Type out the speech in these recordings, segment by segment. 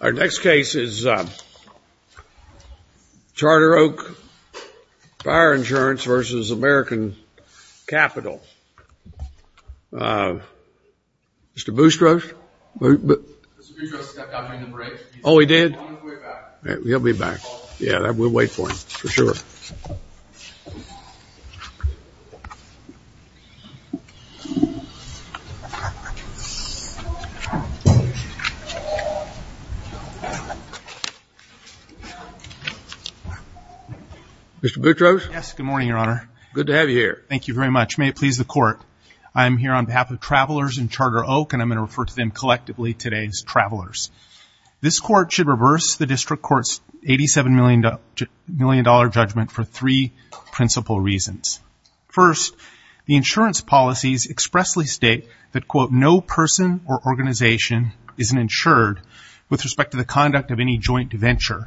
Our next case is Charter Oak Fire Insurance v. American Capital. Mr. Boustros? Mr. Boustros stepped out during the break. Oh, he did? He'll be back. He'll be back. Yeah, we'll wait for him, for sure. Mr. Boustros? Yes, good morning, Your Honor. Good to have you here. Thank you very much. May it please the Court. I am here on behalf of Travelers and Charter Oak, and I'm going to refer to them collectively today as Travelers. This Court should reverse the District Court's $87 million judgment for three principal reasons. First, the insurance policies expressly state that, quote, no person or organization is insured with respect to the conduct of any joint venture.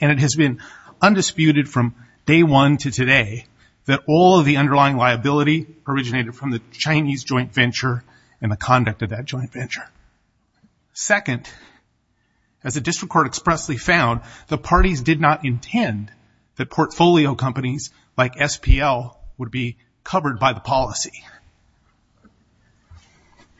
And it has been undisputed from day one to today that all of the underlying liability originated from the Chinese joint venture and the conduct of that joint venture. Second, as the District Court expressly found, the parties did not intend that portfolio companies like SPL would be covered by the policy.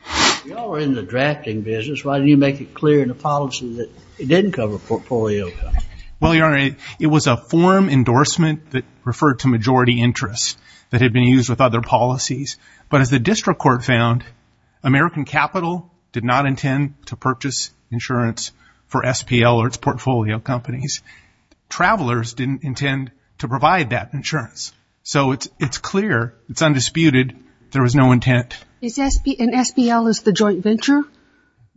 If y'all were in the drafting business, why didn't you make it clear in the policy that it didn't cover portfolio companies? Well, Your Honor, it was a form endorsement that referred to majority interest that had been used with other policies. But as the District Court found, American Capital did not intend to purchase insurance for SPL or its portfolio companies. Travelers didn't intend to provide that insurance. So it's clear, it's undisputed, there was no intent. And SPL is the joint venture?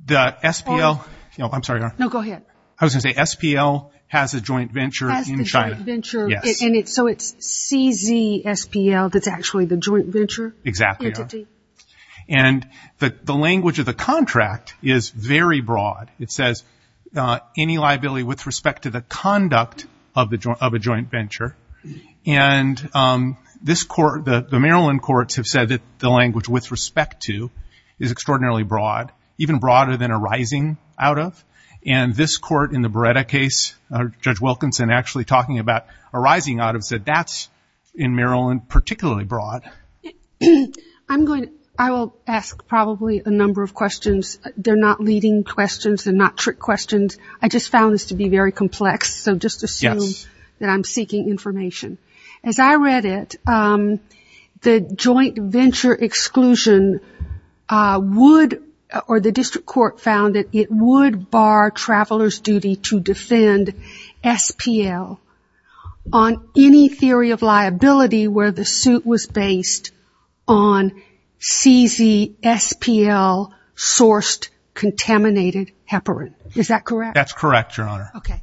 The SPL – I'm sorry, Your Honor. No, go ahead. I was going to say SPL has a joint venture in China. Has the joint venture. Yes. So it's CZ SPL that's actually the joint venture? Exactly, Your Honor. And the language of the contract is very broad. It says, any liability with respect to the conduct of a joint venture. And the Maryland courts have said that the language with respect to is extraordinarily broad, even broader than a rising out of. And this court in the Beretta case, Judge Wilkinson actually talking about a rising out of, said that's in Maryland particularly broad. I'm going to – I will ask probably a number of questions. They're not leading questions. They're not trick questions. I just found this to be very complex. So just assume that I'm seeking information. As I read it, the joint venture exclusion would – or the district court found that it would bar travelers' duty to defend SPL on any theory of liability where the suit was based on CZ SPL sourced contaminated heparin. Is that correct? That's correct, Your Honor. Okay.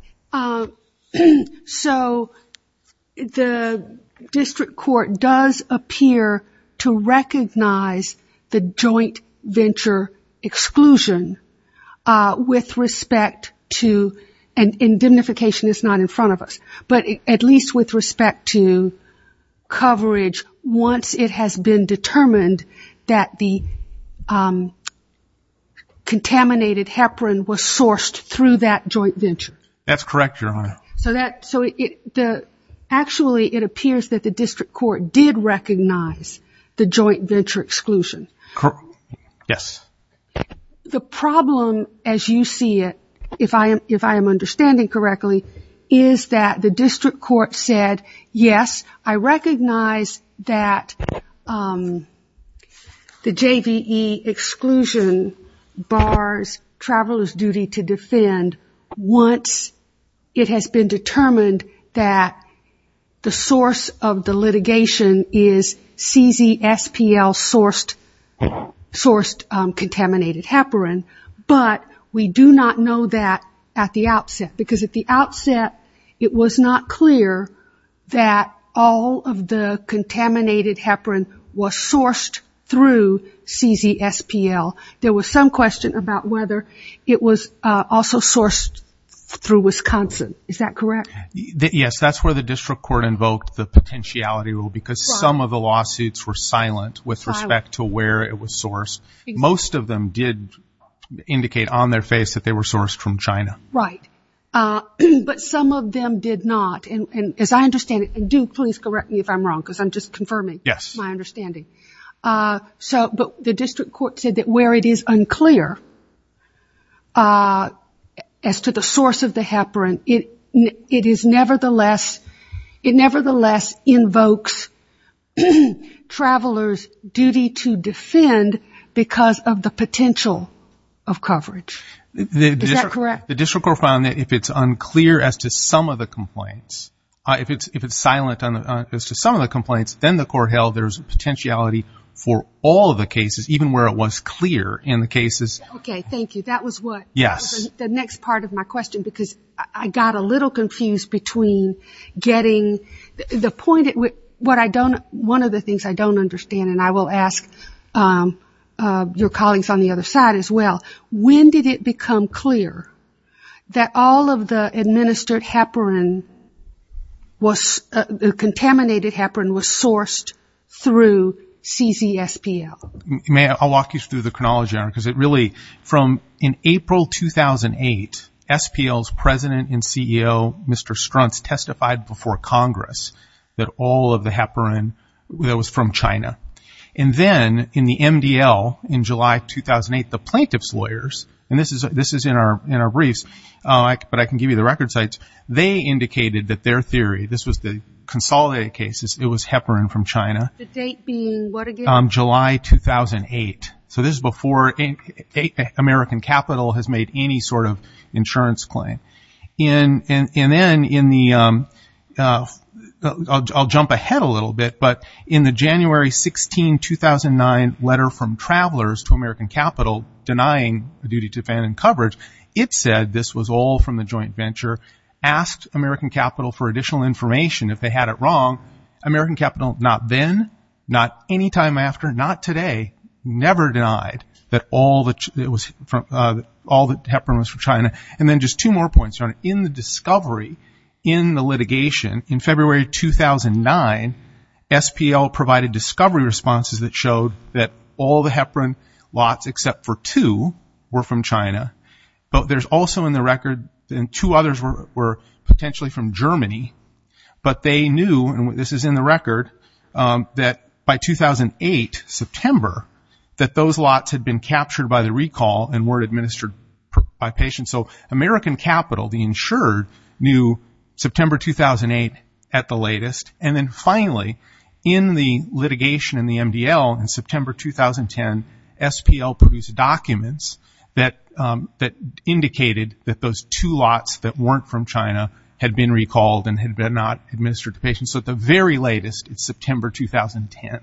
And indemnification is not in front of us. But at least with respect to coverage once it has been determined that the contaminated heparin was sourced through that joint venture. That's correct, Your Honor. So actually it appears that the district court did recognize the joint venture exclusion. Yes. The problem as you see it, if I am understanding correctly, is that the district court said, yes, I recognize that the JVE exclusion bars travelers' duty to defend once it has been determined that the source of the litigation is CZ SPL sourced contaminated heparin, but we do not know that at the outset. Because at the outset it was not clear that all of the contaminated heparin was sourced through CZ SPL. There was some question about whether it was also sourced through Wisconsin. Is that correct? Yes, that's where the district court invoked the potentiality rule because some of the lawsuits were silent with respect to where it was sourced. Most of them did indicate on their face that they were sourced from China. Right. But some of them did not. And as I understand it, and do please correct me if I'm wrong because I'm just confirming my understanding. Yes. But the district court said that where it is unclear as to the source of the heparin, it nevertheless invokes travelers' duty to defend because of the potential of coverage. Is that correct? The district court found that if it's unclear as to some of the complaints, if it's silent as to some of the complaints, then the court held there's a potentiality for all of the cases, even where it was clear in the cases. Okay. Thank you. That was the next part of my question because I got a little confused between getting the point. One of the things I don't understand, and I will ask your colleagues on the other side as well, when did it become clear that all of the administered heparin, contaminated heparin, was sourced through CZ SPL? May I walk you through the chronology on it? Because it really, from in April 2008, SPL's president and CEO, Mr. Struntz, testified before Congress that all of the heparin was from China. And then in the MDL in July 2008, the plaintiff's lawyers, and this is in our briefs, but I can give you the record sites, they indicated that their theory, this was the consolidated cases, it was heparin from China. The date being what again? July 2008. So this is before American capital has made any sort of insurance claim. And then in the, I'll jump ahead a little bit, but in the January 16, 2009 letter from travelers to American capital denying the duty to fan and coverage, it said this was all from the joint venture, asked American capital for additional information if they had it wrong. American capital not then, not any time after, not today, never denied that all the heparin was from China. And then just two more points. In the discovery, in the litigation, in February 2009, SPL provided discovery responses that showed that all the heparin lots, except for two, were from China. But there's also in the record, and two others were potentially from Germany, but they knew, and this is in the record, that by 2008, September, that those lots had been captured by the recall and were administered by patients. So American capital, the insured, knew September 2008 at the latest. And then finally, in the litigation in the MDL in September 2010, SPL produced documents that indicated that those two lots that weren't from China had been recalled and had not been administered to patients. So at the very latest, it's September 2010.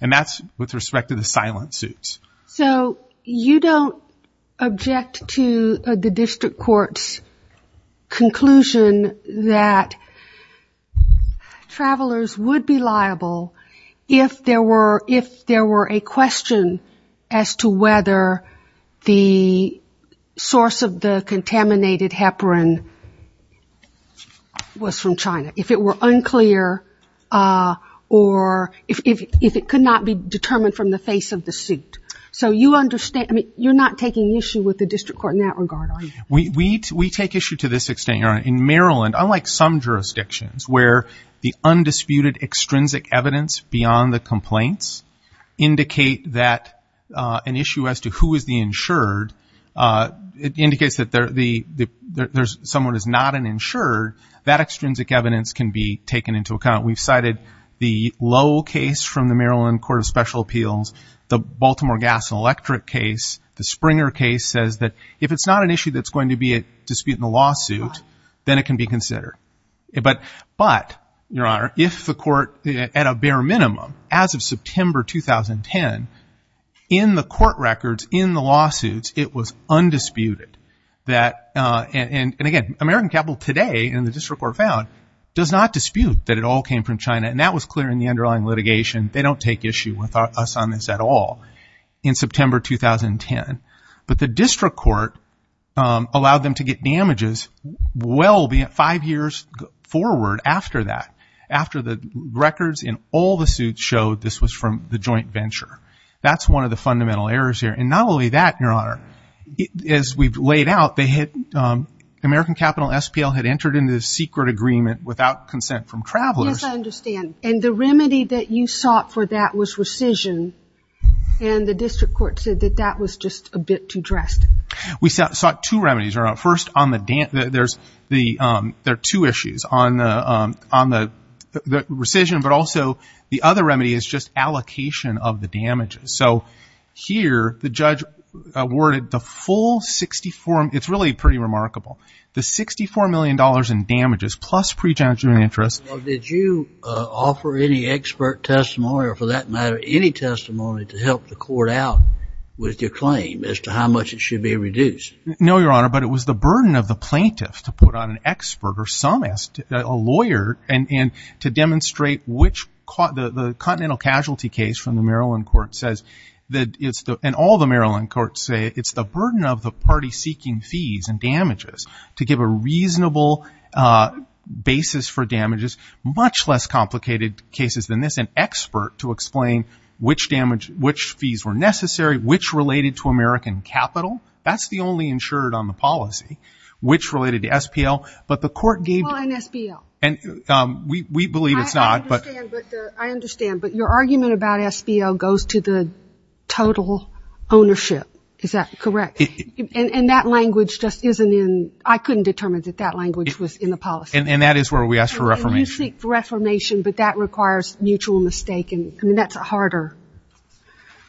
And that's with respect to the silent suits. So you don't object to the district court's conclusion that travelers would be liable if there were a question as to whether the source of the contaminated heparin was from China, if it were unclear, or if it could not be determined from the face of the suit. So you understand, I mean, you're not taking issue with the district court in that regard, are you? We take issue to this extent, Your Honor. In Maryland, unlike some jurisdictions where the undisputed, extrinsic evidence beyond the complaints indicate that an issue as to who is the insured, indicates that someone is not an insured, that extrinsic evidence can be taken into account. We've cited the Lowell case from the Maryland Court of Special Appeals, the Baltimore Gas and Electric case, the Springer case says that if it's not an issue that's going to be at dispute in the lawsuit, then it can be considered. But, Your Honor, if the court, at a bare minimum, as of September 2010, in the court records, in the lawsuits, it was undisputed. And, again, American Capital today, and the district court found, does not dispute that it all came from China, and that was clear in the underlying litigation. They don't take issue with us on this at all in September 2010. But the district court allowed them to get damages five years forward after that, and showed this was from the joint venture. That's one of the fundamental errors here. And not only that, Your Honor, as we've laid out, American Capital SPL had entered into this secret agreement without consent from travelers. Yes, I understand. And the remedy that you sought for that was rescission, and the district court said that that was just a bit too drastic. We sought two remedies, Your Honor. First, there are two issues on the rescission, but also the other remedy is just allocation of the damages. So, here, the judge awarded the full $64 million. It's really pretty remarkable. The $64 million in damages plus pre-judgement interest. Did you offer any expert testimony, or for that matter, any testimony to help the court out with your claim as to how much it should be reduced? No, Your Honor, but it was the burden of the plaintiff to put on an expert or a lawyer to demonstrate which continental casualty case from the Maryland court says, and all the Maryland courts say it's the burden of the party seeking fees and damages to give a reasonable basis for damages, much less complicated cases than this, and expert to explain which fees were necessary, which related to American Capital. That's the only insured on the policy, which related to SPL, but the court gave. Well, and SPL. We believe it's not. I understand, but your argument about SPL goes to the total ownership. Is that correct? And that language just isn't in. I couldn't determine that that language was in the policy. And that is where we ask for reformation. You seek reformation, but that requires mutual mistake, and that's a harder.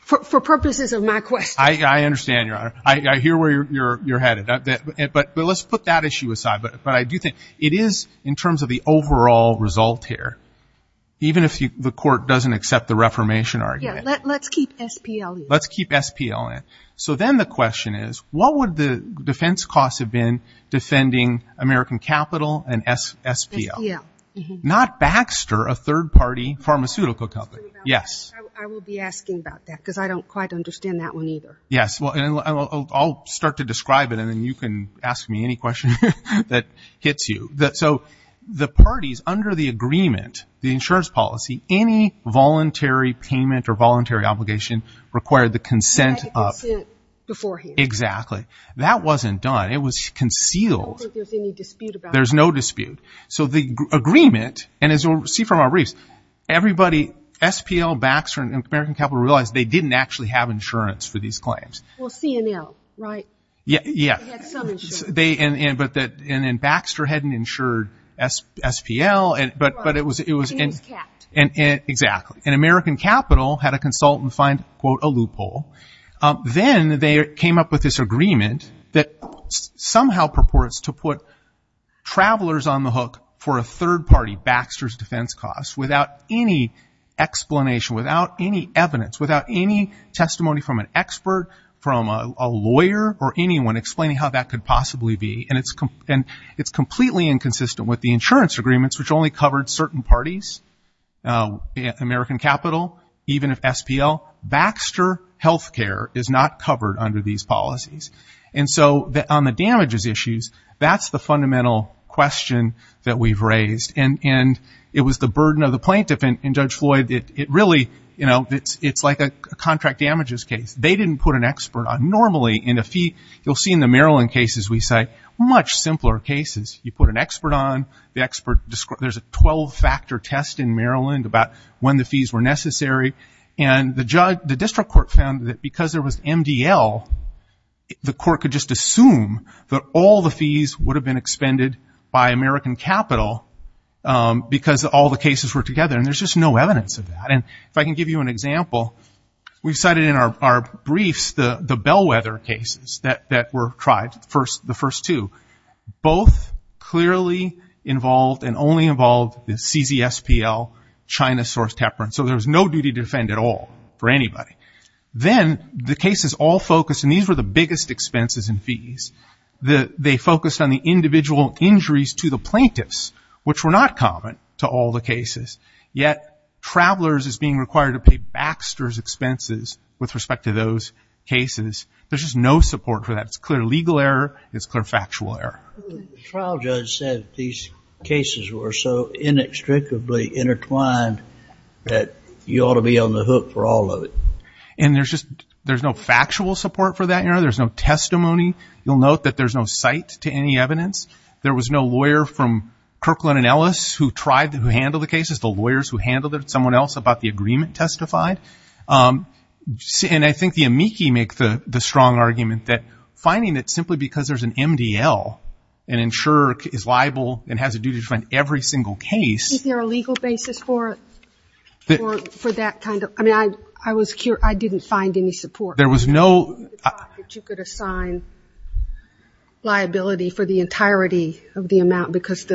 For purposes of my question. I understand, Your Honor. I hear where you're headed, but let's put that issue aside. But I do think it is in terms of the overall result here, even if the court doesn't accept the reformation argument. Yeah, let's keep SPL in. Let's keep SPL in. So then the question is, what would the defense costs have been defending American Capital and SPL? SPL. Not Baxter, a third-party pharmaceutical company. Yes. I will be asking about that because I don't quite understand that one either. Yes. Well, I'll start to describe it, and then you can ask me any question that hits you. So the parties under the agreement, the insurance policy, any voluntary payment or voluntary obligation required the consent of. Consent beforehand. Exactly. That wasn't done. It was concealed. I don't think there's any dispute about that. There's no dispute. So the agreement, and as we'll see from our briefs, everybody, SPL, Baxter, and American Capital realized they didn't actually have insurance for these claims. Well, CNL, right? Yeah. They had some insurance. And then Baxter hadn't insured SPL, but it was. It was capped. Exactly. And American Capital had a consultant find, quote, a loophole. Then they came up with this agreement that somehow purports to put travelers on the hook for a third-party Baxter's defense costs without any explanation, without any evidence, without any testimony from an expert, from a lawyer, or anyone explaining how that could possibly be. And it's completely inconsistent with the insurance agreements, which only covered certain parties. American Capital, even if SPL. Baxter Health Care is not covered under these policies. And so on the damages issues, that's the fundamental question that we've raised. And it was the burden of the plaintiff, and Judge Floyd, it really, you know, it's like a contract damages case. They didn't put an expert on. Normally, you'll see in the Maryland cases we cite, much simpler cases. You put an expert on. There's a 12-factor test in Maryland about when the fees were necessary. And the district court found that because there was MDL, the court could just assume that all the fees would have been expended by American Capital because all the cases were together. And there's just no evidence of that. And if I can give you an example, we've cited in our briefs the bellwether cases that were tried, the first two. Both clearly involved and only involved the CZ SPL, China-sourced heparin. So there was no duty to defend at all for anybody. Then the cases all focused, and these were the biggest expenses and fees. They focused on the individual injuries to the plaintiffs, which were not common to all the cases. Yet Travelers is being required to pay Baxter's expenses with respect to those cases. There's just no support for that. It's clear legal error. It's clear factual error. The trial judge said these cases were so inextricably intertwined that you ought to be on the hook for all of it. And there's no factual support for that error. There's no testimony. You'll note that there's no cite to any evidence. There was no lawyer from Kirkland & Ellis who handled the cases, the lawyers who handled it, someone else about the agreement testified. And I think the amici make the strong argument that finding it simply because there's an MDL, an insurer is liable and has a duty to find every single case. Is there a legal basis for that kind of – I mean, I didn't find any support. There was no – You could assign liability for the entirety of the amount because it's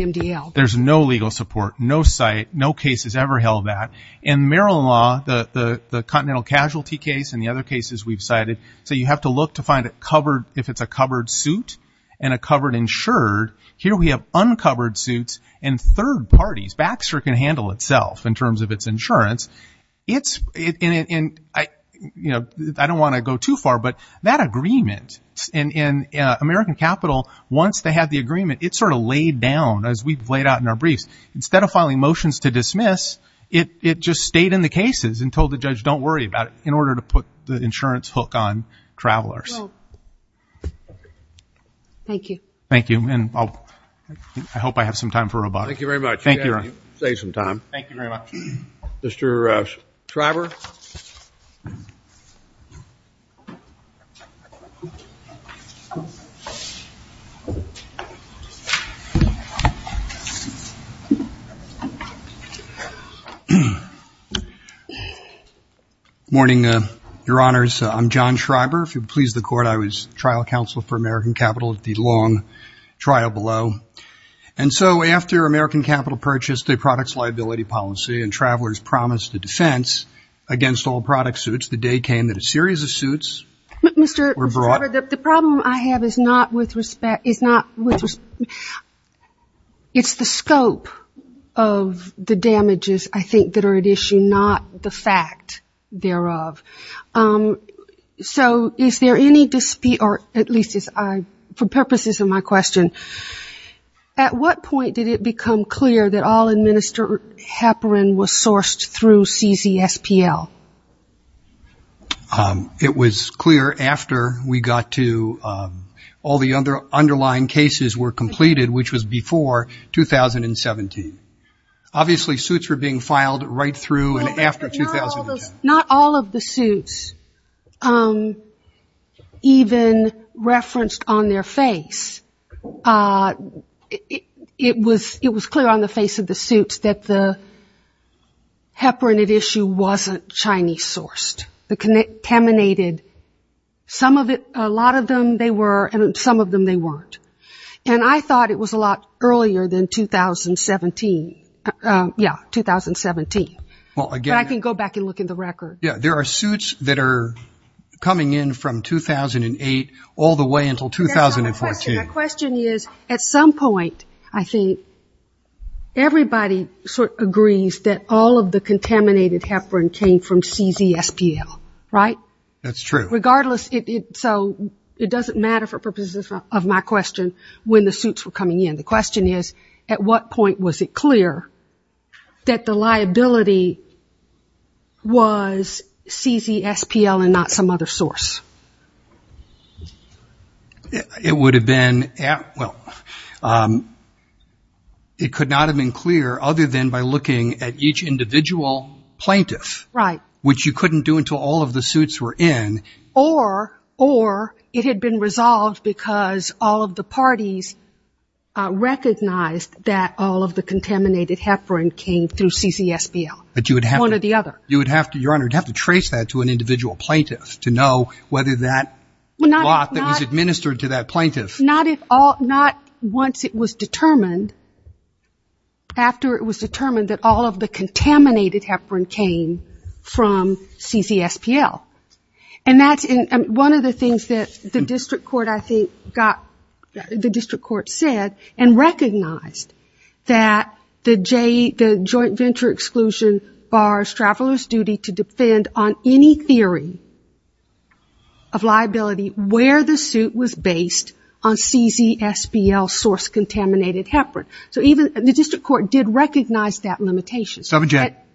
an MDL. There's no legal support, no cite, no case has ever held that. In Maryland law, the continental casualty case and the other cases we've cited, so you have to look to find it covered if it's a covered suit and a covered insured. Here we have uncovered suits and third parties. Baxter can handle itself in terms of its insurance. And I don't want to go too far, but that agreement in American capital, once they had the agreement, it sort of laid down as we've laid out in our briefs. Instead of filing motions to dismiss, it just stayed in the cases and told the judge don't worry about it in order to put the insurance hook on travelers. Thank you. Thank you. And I hope I have some time for rebuttal. Thank you very much. Thank you, Your Honor. You saved some time. Thank you very much. Mr. Schreiber. Good morning, Your Honors. I'm John Schreiber. If you'll please the Court, I was trial counsel for American Capital at the long trial below. And so after American Capital purchased a products liability policy and travelers promised a defense against all product suits, the day came that a series of suits were brought. Mr. Schreiber, the problem I have is not with respect. It's the scope of the damages, I think, that are at issue, not the fact thereof. So is there any dispute, or at least for purposes of my question, at what point did it become clear that all administered heparin was sourced through CZSPL? It was clear after we got to all the underlying cases were completed, which was before 2017. Obviously, suits were being filed right through and after 2010. Not all of the suits even referenced on their face. It was clear on the face of the suits that the heparin at issue wasn't Chinese-sourced. The contaminated, some of it, a lot of them they were, and some of them they weren't. And I thought it was a lot earlier than 2017. Yeah, 2017. But I can go back and look in the record. Yeah, there are suits that are coming in from 2008 all the way until 2014. My question is, at some point, I think, everybody sort of agrees that all of the contaminated heparin came from CZSPL, right? That's true. Regardless, so it doesn't matter for purposes of my question when the suits were coming in. The question is, at what point was it clear that the liability was CZSPL and not some other source? It would have been, well, it could not have been clear other than by looking at each individual plaintiff. Right. Which you couldn't do until all of the suits were in. Or it had been resolved because all of the parties recognized that all of the contaminated heparin came through CZSPL. One or the other. Your Honor, you would have to trace that to an individual plaintiff to know whether that lot that was administered to that plaintiff. Not once it was determined, after it was determined that all of the contaminated heparin came from CZSPL. And that's one of the things that the district court, I think, got, the district court said, and recognized that the Joint Venture Exclusion bars travelers' duty to defend on any theory of liability where the suit was based on CZSPL source-contaminated heparin. So even the district court did recognize that limitation.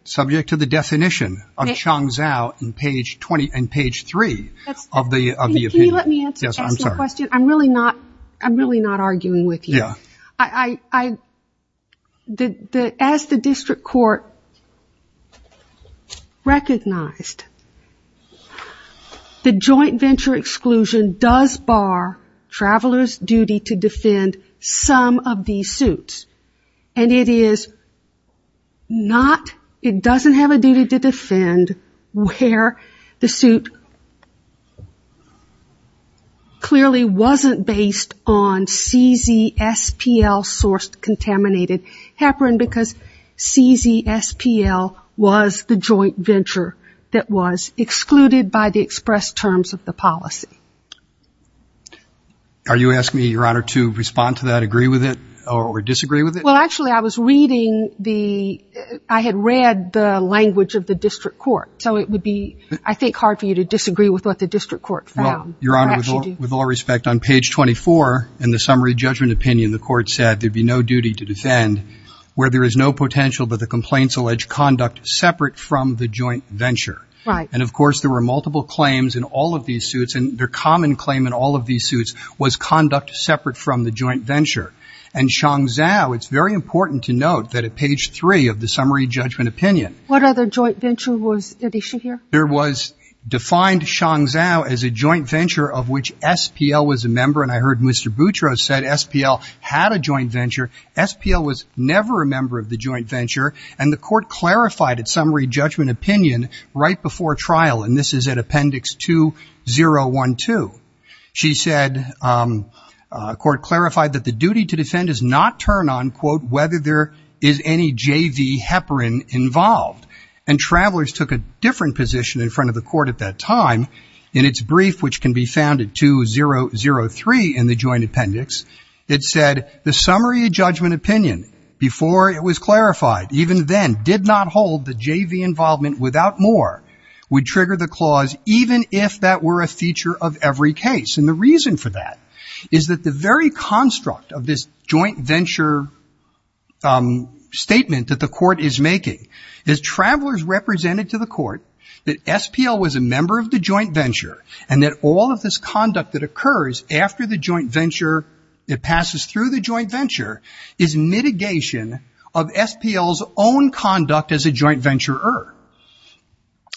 Subject to the definition of Changzhou in page 20 and page 3 of the opinion. Can you let me ask my question? Yes, I'm sorry. I'm really not arguing with you. Yeah. As the district court recognized, the Joint Venture Exclusion does bar travelers' duty to defend some of these suits. And it is not, it doesn't have a duty to defend where the suit clearly wasn't based on CZSPL source-contaminated heparin, because CZSPL was the joint venture that was excluded by the express terms of the policy. Are you asking me, Your Honor, to respond to that, agree with it or disagree with it? Well, actually, I was reading the, I had read the language of the district court. So it would be, I think, hard for you to disagree with what the district court found. Well, Your Honor, with all respect, on page 24 in the summary judgment opinion, the court said there'd be no duty to defend where there is no potential that the complaints allege conduct separate from the joint venture. Right. And, of course, there were multiple claims in all of these suits. And their common claim in all of these suits was conduct separate from the joint venture. And Chong Zhou, it's very important to note that at page 3 of the summary judgment opinion. What other joint venture was at issue here? There was defined Chong Zhou as a joint venture of which SPL was a member. And I heard Mr. Boutros said SPL had a joint venture. SPL was never a member of the joint venture. And the court clarified its summary judgment opinion right before trial. And this is at Appendix 2-012. She said, court clarified that the duty to defend is not turned on, quote, whether there is any JV heparin involved. And travelers took a different position in front of the court at that time. In its brief, which can be found at 2-003 in the joint appendix, it said, the summary judgment opinion, before it was clarified, even then did not hold the JV involvement without more, would trigger the clause even if that were a feature of every case. And the reason for that is that the very construct of this joint venture statement that the court is making is travelers represented to the court that SPL was a member of the joint venture and that all of this conduct that occurs after the joint venture, it passes through the joint venture, is mitigation of SPL's own conduct as a joint venturer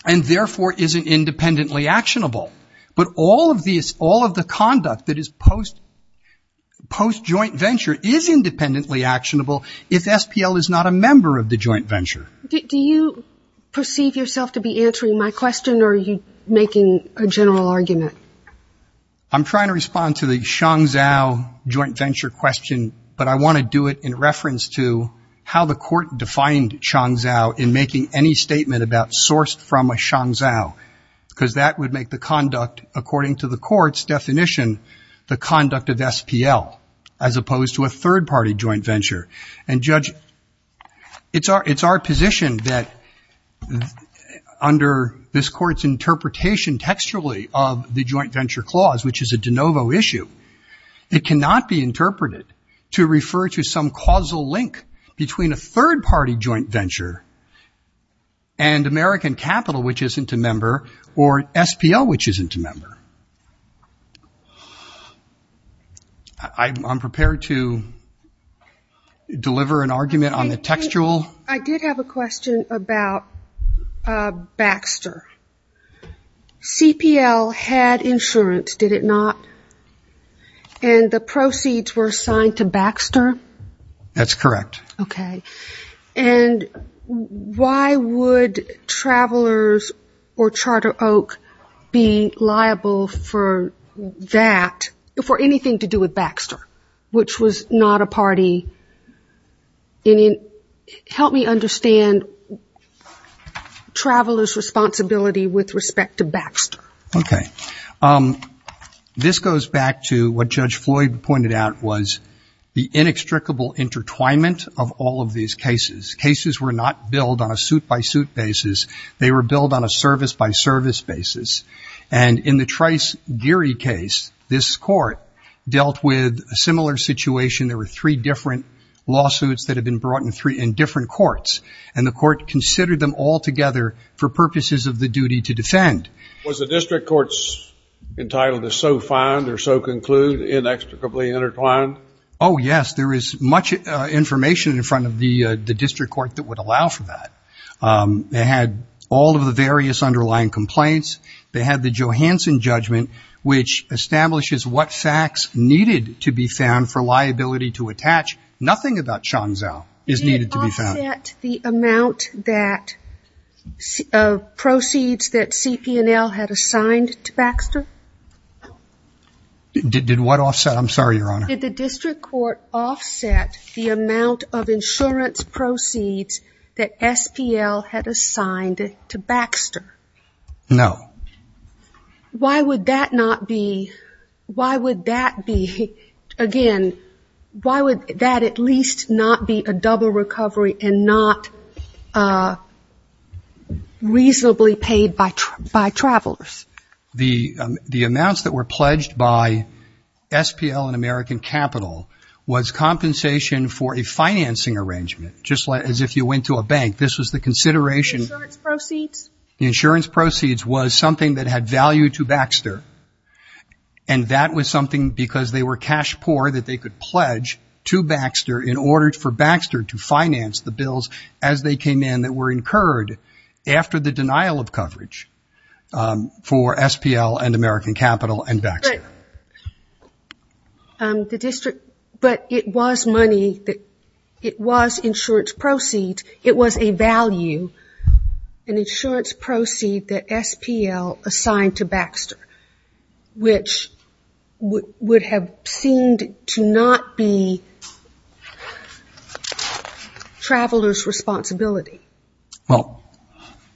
and therefore isn't independently actionable. But all of the conduct that is post-joint venture is independently actionable if SPL is not a member of the joint venture. Do you perceive yourself to be answering my question or are you making a general argument? I'm trying to respond to the Chong Zhou joint venture question, but I want to do it in reference to how the court defined Chong Zhou in making any statement about sourced from a Chong Zhou. Because that would make the conduct, according to the court's definition, the conduct of SPL as opposed to a third-party joint venture. And, Judge, it's our position that under this court's interpretation textually of the joint venture clause, which is a de novo issue, it cannot be interpreted to refer to some causal link between a third-party joint venture and American Capital, which isn't a member, or SPL, which isn't a member. I'm prepared to deliver an argument on the textual. I did have a question about Baxter. CPL had insurance, did it not? And the proceeds were assigned to Baxter? That's correct. Okay. And why would Travelers or Charter Oak be liable for that, for anything to do with Baxter, which was not a party? Help me understand Travelers' responsibility with respect to Baxter. Okay. This goes back to what Judge Floyd pointed out, was the inextricable intertwinement of all of these cases. Cases were not billed on a suit-by-suit basis. They were billed on a service-by-service basis. And in the Trice-Geary case, this court dealt with a similar situation. There were three different lawsuits that had been brought in different courts, and the court considered them all together for purposes of the duty to defend. Was the district courts entitled to so find or so conclude inextricably intertwined? Oh, yes. There is much information in front of the district court that would allow for that. They had all of the various underlying complaints. They had the Johansson judgment, which establishes what facts needed to be found for liability to attach. Nothing about Shonzo is needed to be found. Did the district court offset the amount of proceeds that CPNL had assigned to Baxter? Did what offset? I'm sorry, Your Honor. Did the district court offset the amount of insurance proceeds that SPL had assigned to Baxter? No. Why would that not be, why would that be, again, why would that at least not be a double recovery and not reasonably paid by travelers? The amounts that were pledged by SPL and American Capital was compensation for a financing arrangement, just as if you went to a bank. This was the consideration. Insurance proceeds? Insurance proceeds was something that had value to Baxter, and that was something because they were cash poor that they could pledge to Baxter in order for Baxter to finance the bills as they came in that were incurred after the denial of coverage for SPL and American Capital and Baxter. The district, but it was money that, it was insurance proceeds. It was a value, an insurance proceed that SPL assigned to Baxter, which would have seemed to not be travelers' responsibility. Well,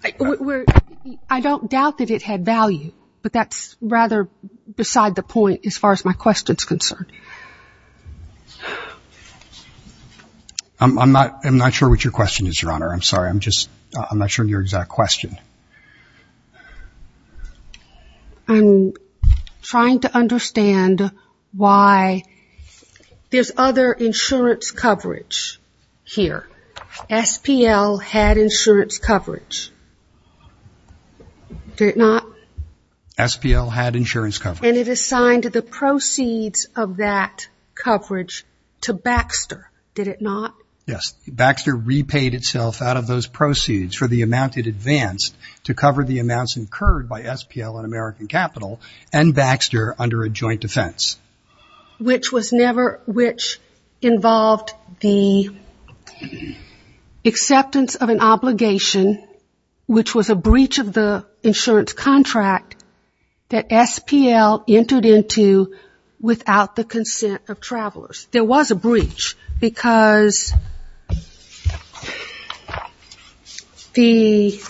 I don't doubt that it had value, but that's rather beside the point as far as my question is concerned. I'm not sure what your question is, Your Honor. I'm sorry, I'm just, I'm not sure of your exact question. I'm trying to understand why there's other insurance coverage here. SPL had insurance coverage, did it not? SPL had insurance coverage. And it assigned the proceeds of that coverage to Baxter, did it not? Yes. Baxter repaid itself out of those proceeds for the amount it advanced to cover the amounts incurred by SPL and American Capital and Baxter under a joint defense. Which was never, which involved the acceptance of an obligation, which was a breach of the insurance contract that SPL entered into without the consent of travelers. There was a breach because the,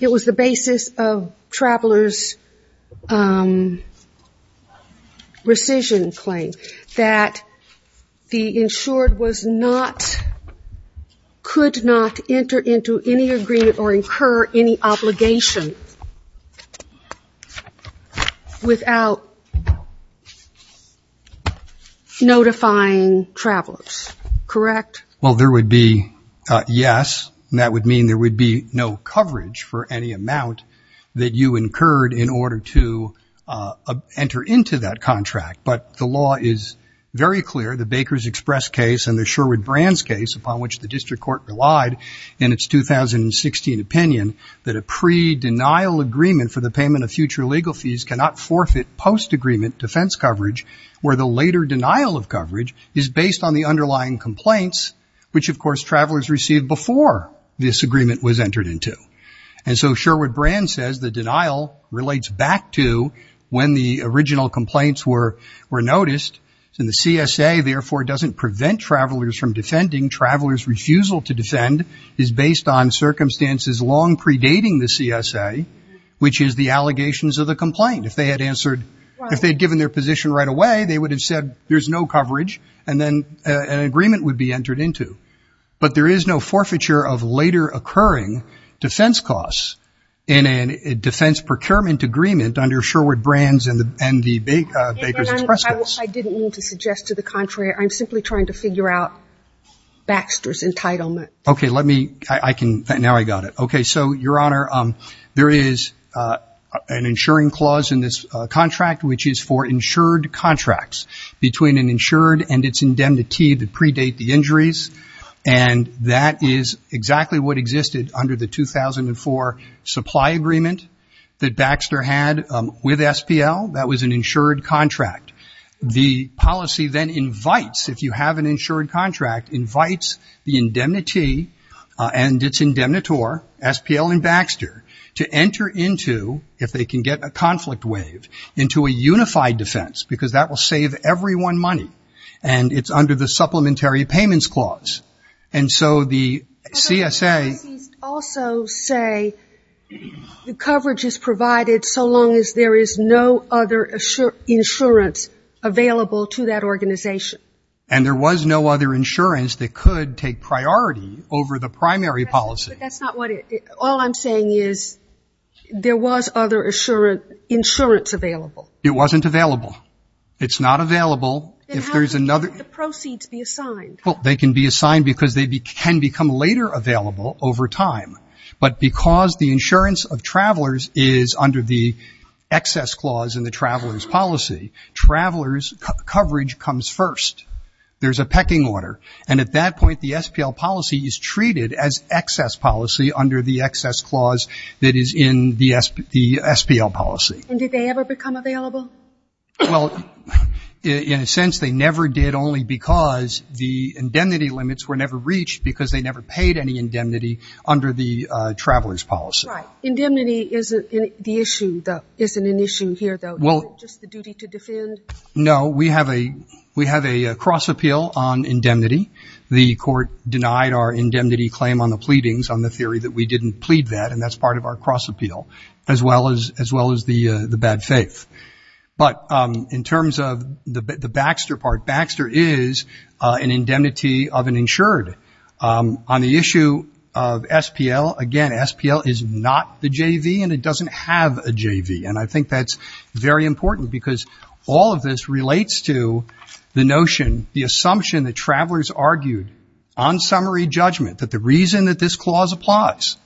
it was the basis of travelers' rescission claim, that the insured was not, could not enter into any agreement or incur any obligation without notifying travelers. Correct? Well, there would be yes, and that would mean there would be no coverage for any amount that you incurred in order to enter into that contract. But the law is very clear, the Baker's Express case and the Sherwood Brands case, upon which the district court relied in its 2016 opinion, that a pre-denial agreement for the payment of future legal fees cannot forfeit post-agreement defense coverage, where the later denial of coverage is based on the underlying complaints, which of course travelers received before this agreement was entered into. And so Sherwood Brands says the denial relates back to when the original complaints were noticed, and the CSA therefore doesn't prevent travelers from defending. Travelers' refusal to defend is based on circumstances long predating the CSA, which is the allegations of the complaint. If they had answered, if they had given their position right away, they would have said there's no coverage, and then an agreement would be entered into. But there is no forfeiture of later occurring defense costs in a defense procurement agreement under Sherwood Brands and the Baker's Express case. And I didn't mean to suggest to the contrary. I'm simply trying to figure out Baxter's entitlement. Okay, let me, I can, now I got it. Okay, so, Your Honor, there is an insuring clause in this contract, which is for insured contracts between an insured and its indemnity that predate the injuries, and that is exactly what existed under the 2004 supply agreement that Baxter had with SPL. That was an insured contract. The policy then invites, if you have an insured contract, invites the indemnity and its indemnitor, SPL and Baxter, to enter into, if they can get a conflict wave, into a unified defense, because that will save everyone money, and it's under the supplementary payments clause. And so the CSA also say the coverage is provided so long as there is no other insurance available to that organization. And there was no other insurance that could take priority over the primary policy. But that's not what it, all I'm saying is there was other insurance available. It wasn't available. It's not available. Then how can the proceeds be assigned? Well, they can be assigned because they can become later available over time. But because the insurance of travelers is under the excess clause in the traveler's policy, traveler's coverage comes first. There's a pecking order. And at that point, the SPL policy is treated as excess policy under the excess clause that is in the SPL policy. And did they ever become available? Well, in a sense, they never did, only because the indemnity limits were never reached because they never paid any indemnity under the traveler's policy. Right. Indemnity isn't the issue, though, isn't an issue here, though. Is it just the duty to defend? No. We have a cross appeal on indemnity. The court denied our indemnity claim on the pleadings on the theory that we didn't plead that, and that's part of our cross appeal, as well as the bad faith. But in terms of the Baxter part, Baxter is an indemnity of an insured. On the issue of SPL, again, SPL is not the JV, and it doesn't have a JV. And I think that's very important because all of this relates to the notion, the assumption that travelers argued on summary judgment, that the reason that this clause applies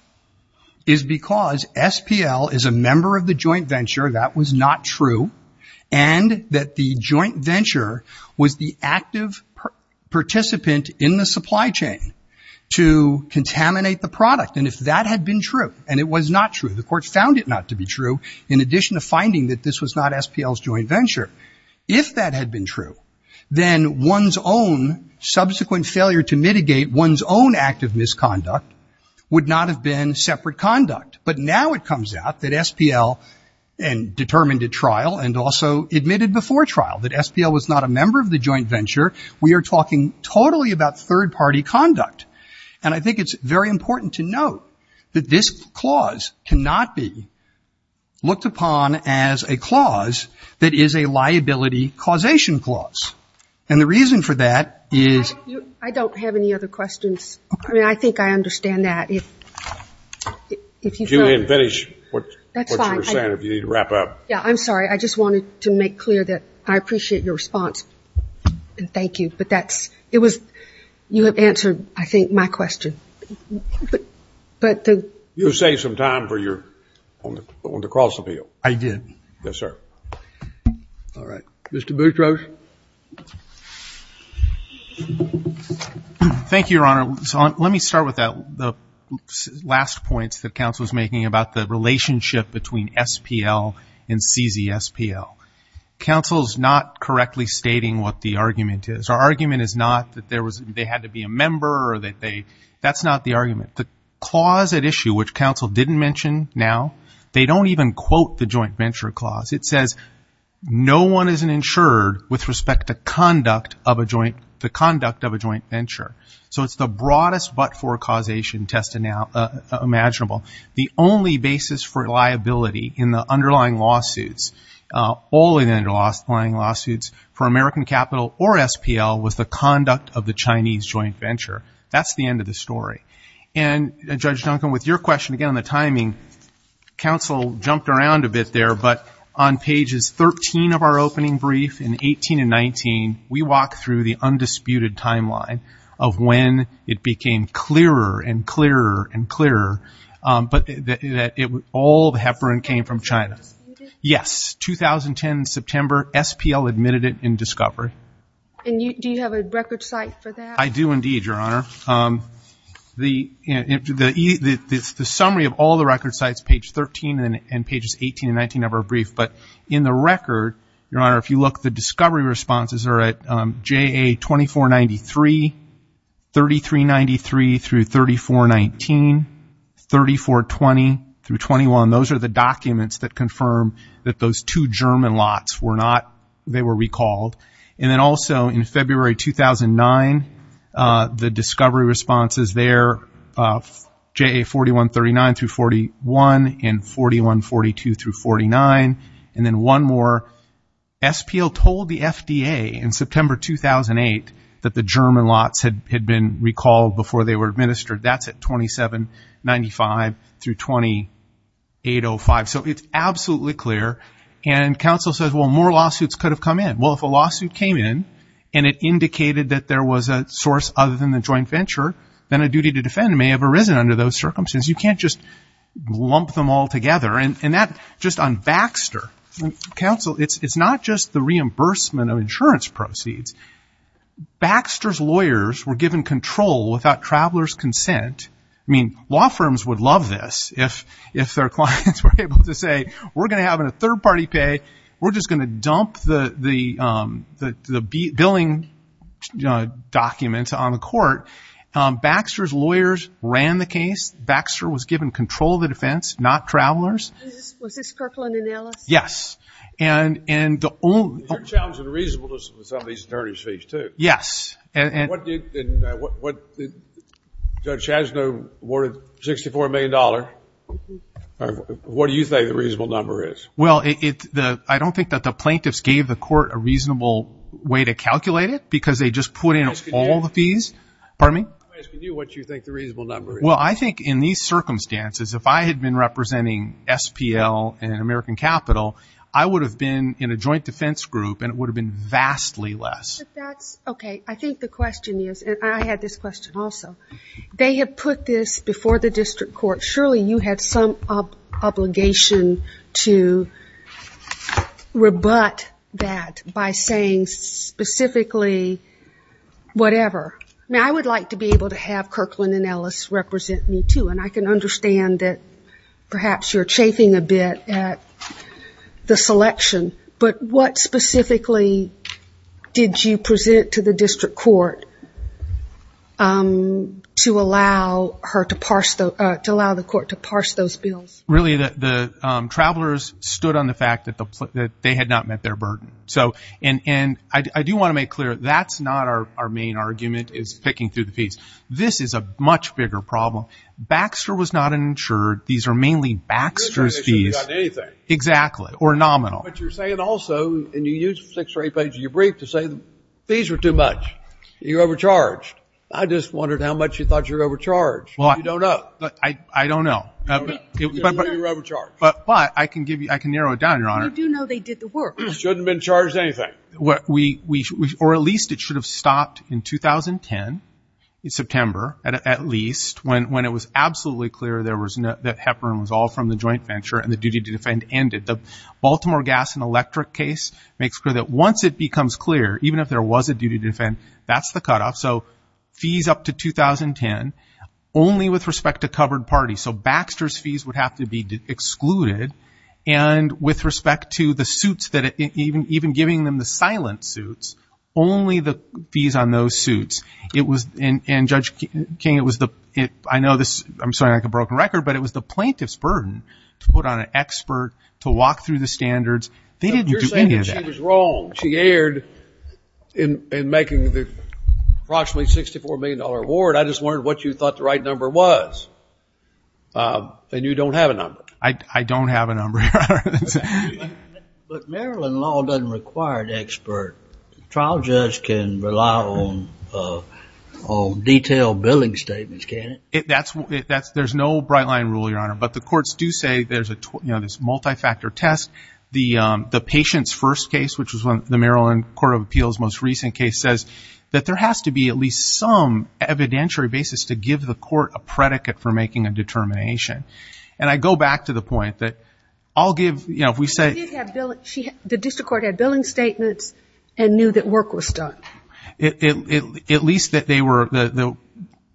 is because SPL is a member of the joint venture. That was not true. And that the joint venture was the active participant in the supply chain to contaminate the product. And if that had been true, and it was not true, the court found it not to be true. In addition to finding that this was not SPL's joint venture. If that had been true, then one's own subsequent failure to mitigate one's own active misconduct would not have been separate conduct. But now it comes out that SPL determined at trial and also admitted before trial that SPL was not a member of the joint venture. We are talking totally about third party conduct. And I think it's very important to note that this clause cannot be looked upon as a clause that is a liability causation clause. And the reason for that is. I don't have any other questions. I mean, I think I understand that. If you can finish what you were saying, if you need to wrap up. Yeah, I'm sorry. I just wanted to make clear that I appreciate your response, and thank you. You have answered, I think, my question. You saved some time on the cross appeal. I did. Yes, sir. All right. Mr. Boutros. Thank you, Your Honor. Let me start with the last points that counsel was making about the relationship between SPL and CZ SPL. Counsel is not correctly stating what the argument is. Our argument is not that they had to be a member or that they. That's not the argument. The clause at issue, which counsel didn't mention now, they don't even quote the joint venture clause. It says no one is insured with respect to conduct of a joint, the conduct of a joint venture. So it's the broadest but-for causation test imaginable. The only basis for liability in the underlying lawsuits, only the underlying lawsuits for American Capital or SPL, was the conduct of the Chinese joint venture. That's the end of the story. And, Judge Duncan, with your question, again, on the timing, counsel jumped around a bit there, but on pages 13 of our opening brief in 18 and 19, we walk through the undisputed timeline of when it became clearer and clearer and clearer that all the heparin came from China. Yes, 2010, September, SPL admitted it in discovery. And do you have a record site for that? I do indeed, Your Honor. The summary of all the record sites, page 13 and pages 18 and 19 of our brief, but in the record, Your Honor, if you look, the discovery responses are at JA 2493, 3393-3419, 3420-21. Those are the documents that confirm that those two German lots were not, they were recalled. And then also in February 2009, the discovery responses there, JA 4139-41 and 4142-49. And then one more, SPL told the FDA in September 2008 that the German lots had been recalled before they were administered. That's at 2795-2805. So it's absolutely clear. And counsel says, well, more lawsuits could have come in. Well, if a lawsuit came in and it indicated that there was a source other than the joint venture, then a duty to defend may have arisen under those circumstances. You can't just lump them all together. And that, just on Baxter, counsel, it's not just the reimbursement of insurance proceeds. Baxter's lawyers were given control without traveler's consent. I mean, law firms would love this if their clients were able to say, we're going to have a third-party pay. We're just going to dump the billing documents on the court. Baxter's lawyers ran the case. Baxter was given control of the defense, not travelers. Was this Kirkland and Ellis? Yes. And the only – You're challenging the reasonableness of some of these attorney's fees, too. Yes. And what – Judge Chasno awarded $64 million. What do you think the reasonable number is? Well, I don't think that the plaintiffs gave the court a reasonable way to calculate it because they just put in all the fees. Pardon me? I'm asking you what you think the reasonable number is. Well, I think in these circumstances, if I had been representing SPL and American Capital, I would have been in a joint defense group, and it would have been vastly less. But that's – okay. I think the question is – and I had this question also. They have put this before the district court. Surely you had some obligation to rebut that by saying specifically whatever. I mean, I would like to be able to have Kirkland and Ellis represent me, too, and I can understand that perhaps you're chafing a bit at the selection. But what specifically did you present to the district court to allow her to parse – to allow the court to parse those bills? Really, the travelers stood on the fact that they had not met their burden. And I do want to make clear that's not our main argument is picking through the fees. This is a much bigger problem. Baxter was not insured. These are mainly Baxter's fees. They shouldn't have gotten anything. Exactly. Or nominal. But you're saying also – and you used six or eight pages of your brief to say the fees were too much. You're overcharged. I just wondered how much you thought you were overcharged. You don't know. I don't know. You're overcharged. But I can give you – I can narrow it down, Your Honor. You do know they did the work. Shouldn't have been charged anything. Or at least it should have stopped in 2010, in September at least, when it was absolutely clear there was – that Heparin was all from the joint venture and the duty to defend ended. The Baltimore Gas and Electric case makes clear that once it becomes clear, even if there was a duty to defend, that's the cutoff. So fees up to 2010 only with respect to covered parties. So Baxter's fees would have to be excluded. And with respect to the suits that – even giving them the silent suits, only the fees on those suits. It was – and, Judge King, it was the – I know this – I'm sorry I have a broken record, but it was the plaintiff's burden to put on an expert, to walk through the standards. They didn't do any of that. You're saying that she was wrong. She erred in making the approximately $64 million award. I just wondered what you thought the right number was. And you don't have a number. I don't have a number, Your Honor. But Maryland law doesn't require an expert. A trial judge can rely on detailed billing statements, can't he? That's – there's no bright-line rule, Your Honor. But the courts do say there's a – you know, this multi-factor test. The patient's first case, which was the Maryland Court of Appeals' most recent case, says that there has to be at least some evidentiary basis to give the court a predicate for making a determination. And I go back to the point that I'll give – you know, if we say – She did have billing – the district court had billing statements and knew that work was done. At least that they were – the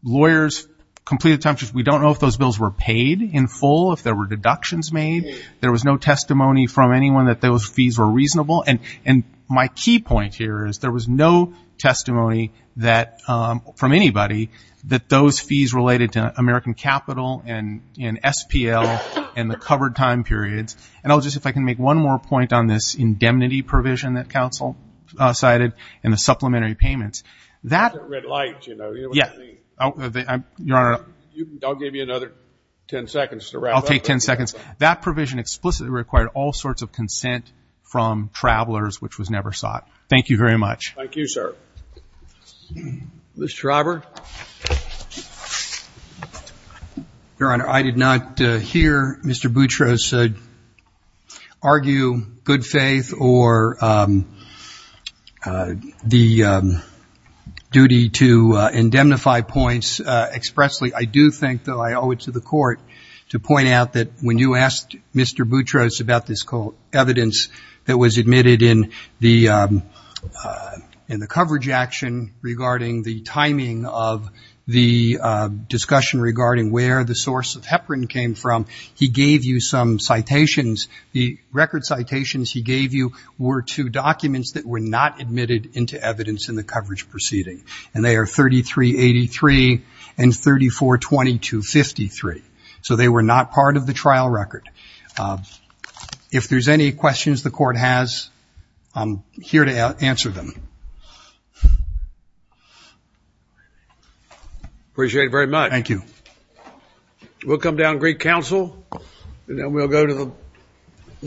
lawyers completed – we don't know if those bills were paid in full, if there were deductions made. There was no testimony from anyone that those fees were reasonable. And my key point here is there was no testimony that – from anybody that those fees related to American Capital and SPL and the covered time periods. And I'll just – if I can make one more point on this indemnity provision that counsel cited and the supplementary payments. That – Red light, you know. You know what I mean. Your Honor. I'll give you another ten seconds to wrap up. I'll take ten seconds. That provision explicitly required all sorts of consent from travelers, which was never sought. Thank you very much. Thank you, sir. Mr. Robert. Your Honor, I did not hear Mr. Boutros argue good faith or the duty to indemnify points expressly. I do think, though, I owe it to the Court to point out that when you asked Mr. Boutros about this evidence that was admitted in the coverage action regarding the timing of the discussion regarding where the source of Heparin came from, he gave you some citations. The record citations he gave you were to documents that were not admitted into evidence in the coverage proceeding. And they are 3383 and 342253. So they were not part of the trial record. If there's any questions the Court has, I'm here to answer them. Appreciate it very much. Thank you. We'll come down and greet counsel, and then we'll go to the next case.